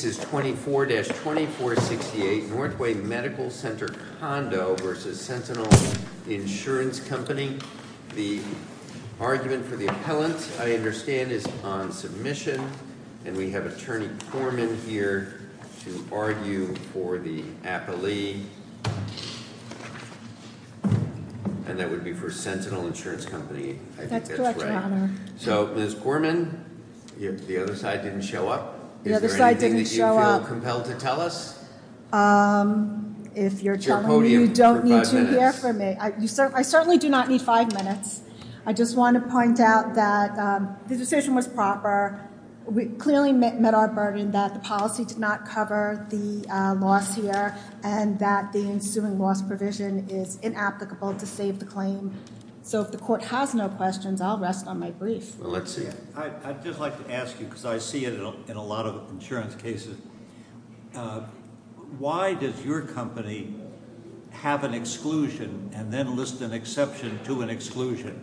This is 24-2468 Northway Medical Center Condo v. Sentinel Insurance Company. The argument for the appellant, I understand, is on submission. And we have Attorney Corman here to argue for the appellee. And that would be for Sentinel Insurance Company. I think that's right. So Ms. Corman, the other side didn't show up. Is there anything that you feel compelled to tell us? If you're telling me, you don't need to hear from me. I certainly do not need five minutes. I just want to point out that the decision was proper. We clearly met our burden that the policy did not cover the loss here. And that the ensuing loss provision is inapplicable to save the claim. So if the court has no questions, I'll rest on my brief. I'd just like to ask you, because I see it in a lot of insurance cases. Why does your company have an exclusion and then list an exception to an exclusion?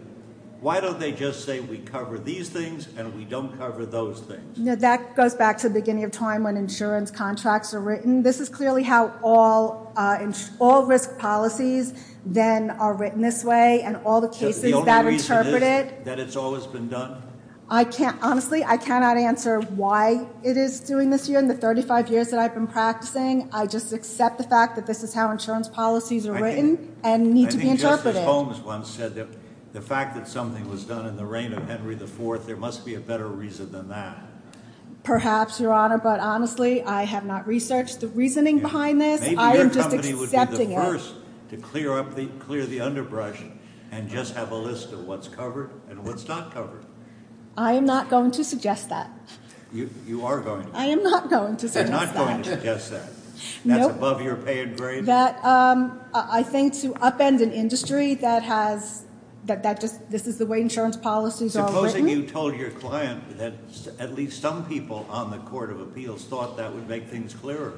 Why don't they just say we cover these things and we don't cover those things? That goes back to the beginning of time when insurance contracts are written. This is clearly how all risk policies then are written this way and all the cases that interpret it. That it's always been done? Honestly, I cannot answer why it is doing this here in the 35 years that I've been practicing. I just accept the fact that this is how insurance policies are written and need to be interpreted. I think Justice Holmes once said that the fact that something was done in the reign of Henry IV, there must be a better reason than that. Perhaps, Your Honor, but honestly, I have not researched the reasoning behind this. I am just accepting it. It's worse to clear the underbrush and just have a list of what's covered and what's not covered. I am not going to suggest that. You are going to. I am not going to suggest that. You're not going to suggest that. That's above your paid grade? That I think to upend an industry that has, that this is the way insurance policies are written. Supposing you told your client that at least some people on the Court of Appeals thought that would make things clearer.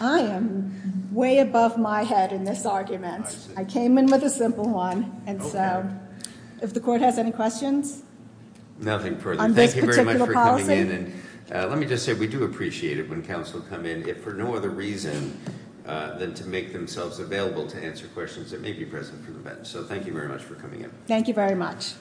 I am way above my head in this argument. I came in with a simple one, and so, if the Court has any questions? Nothing further. On this particular policy? Thank you very much for coming in, and let me just say we do appreciate it when counsel come in, if for no other reason, than to make themselves available to answer questions that may be present from the bench. So thank you very much for coming in. Thank you very much.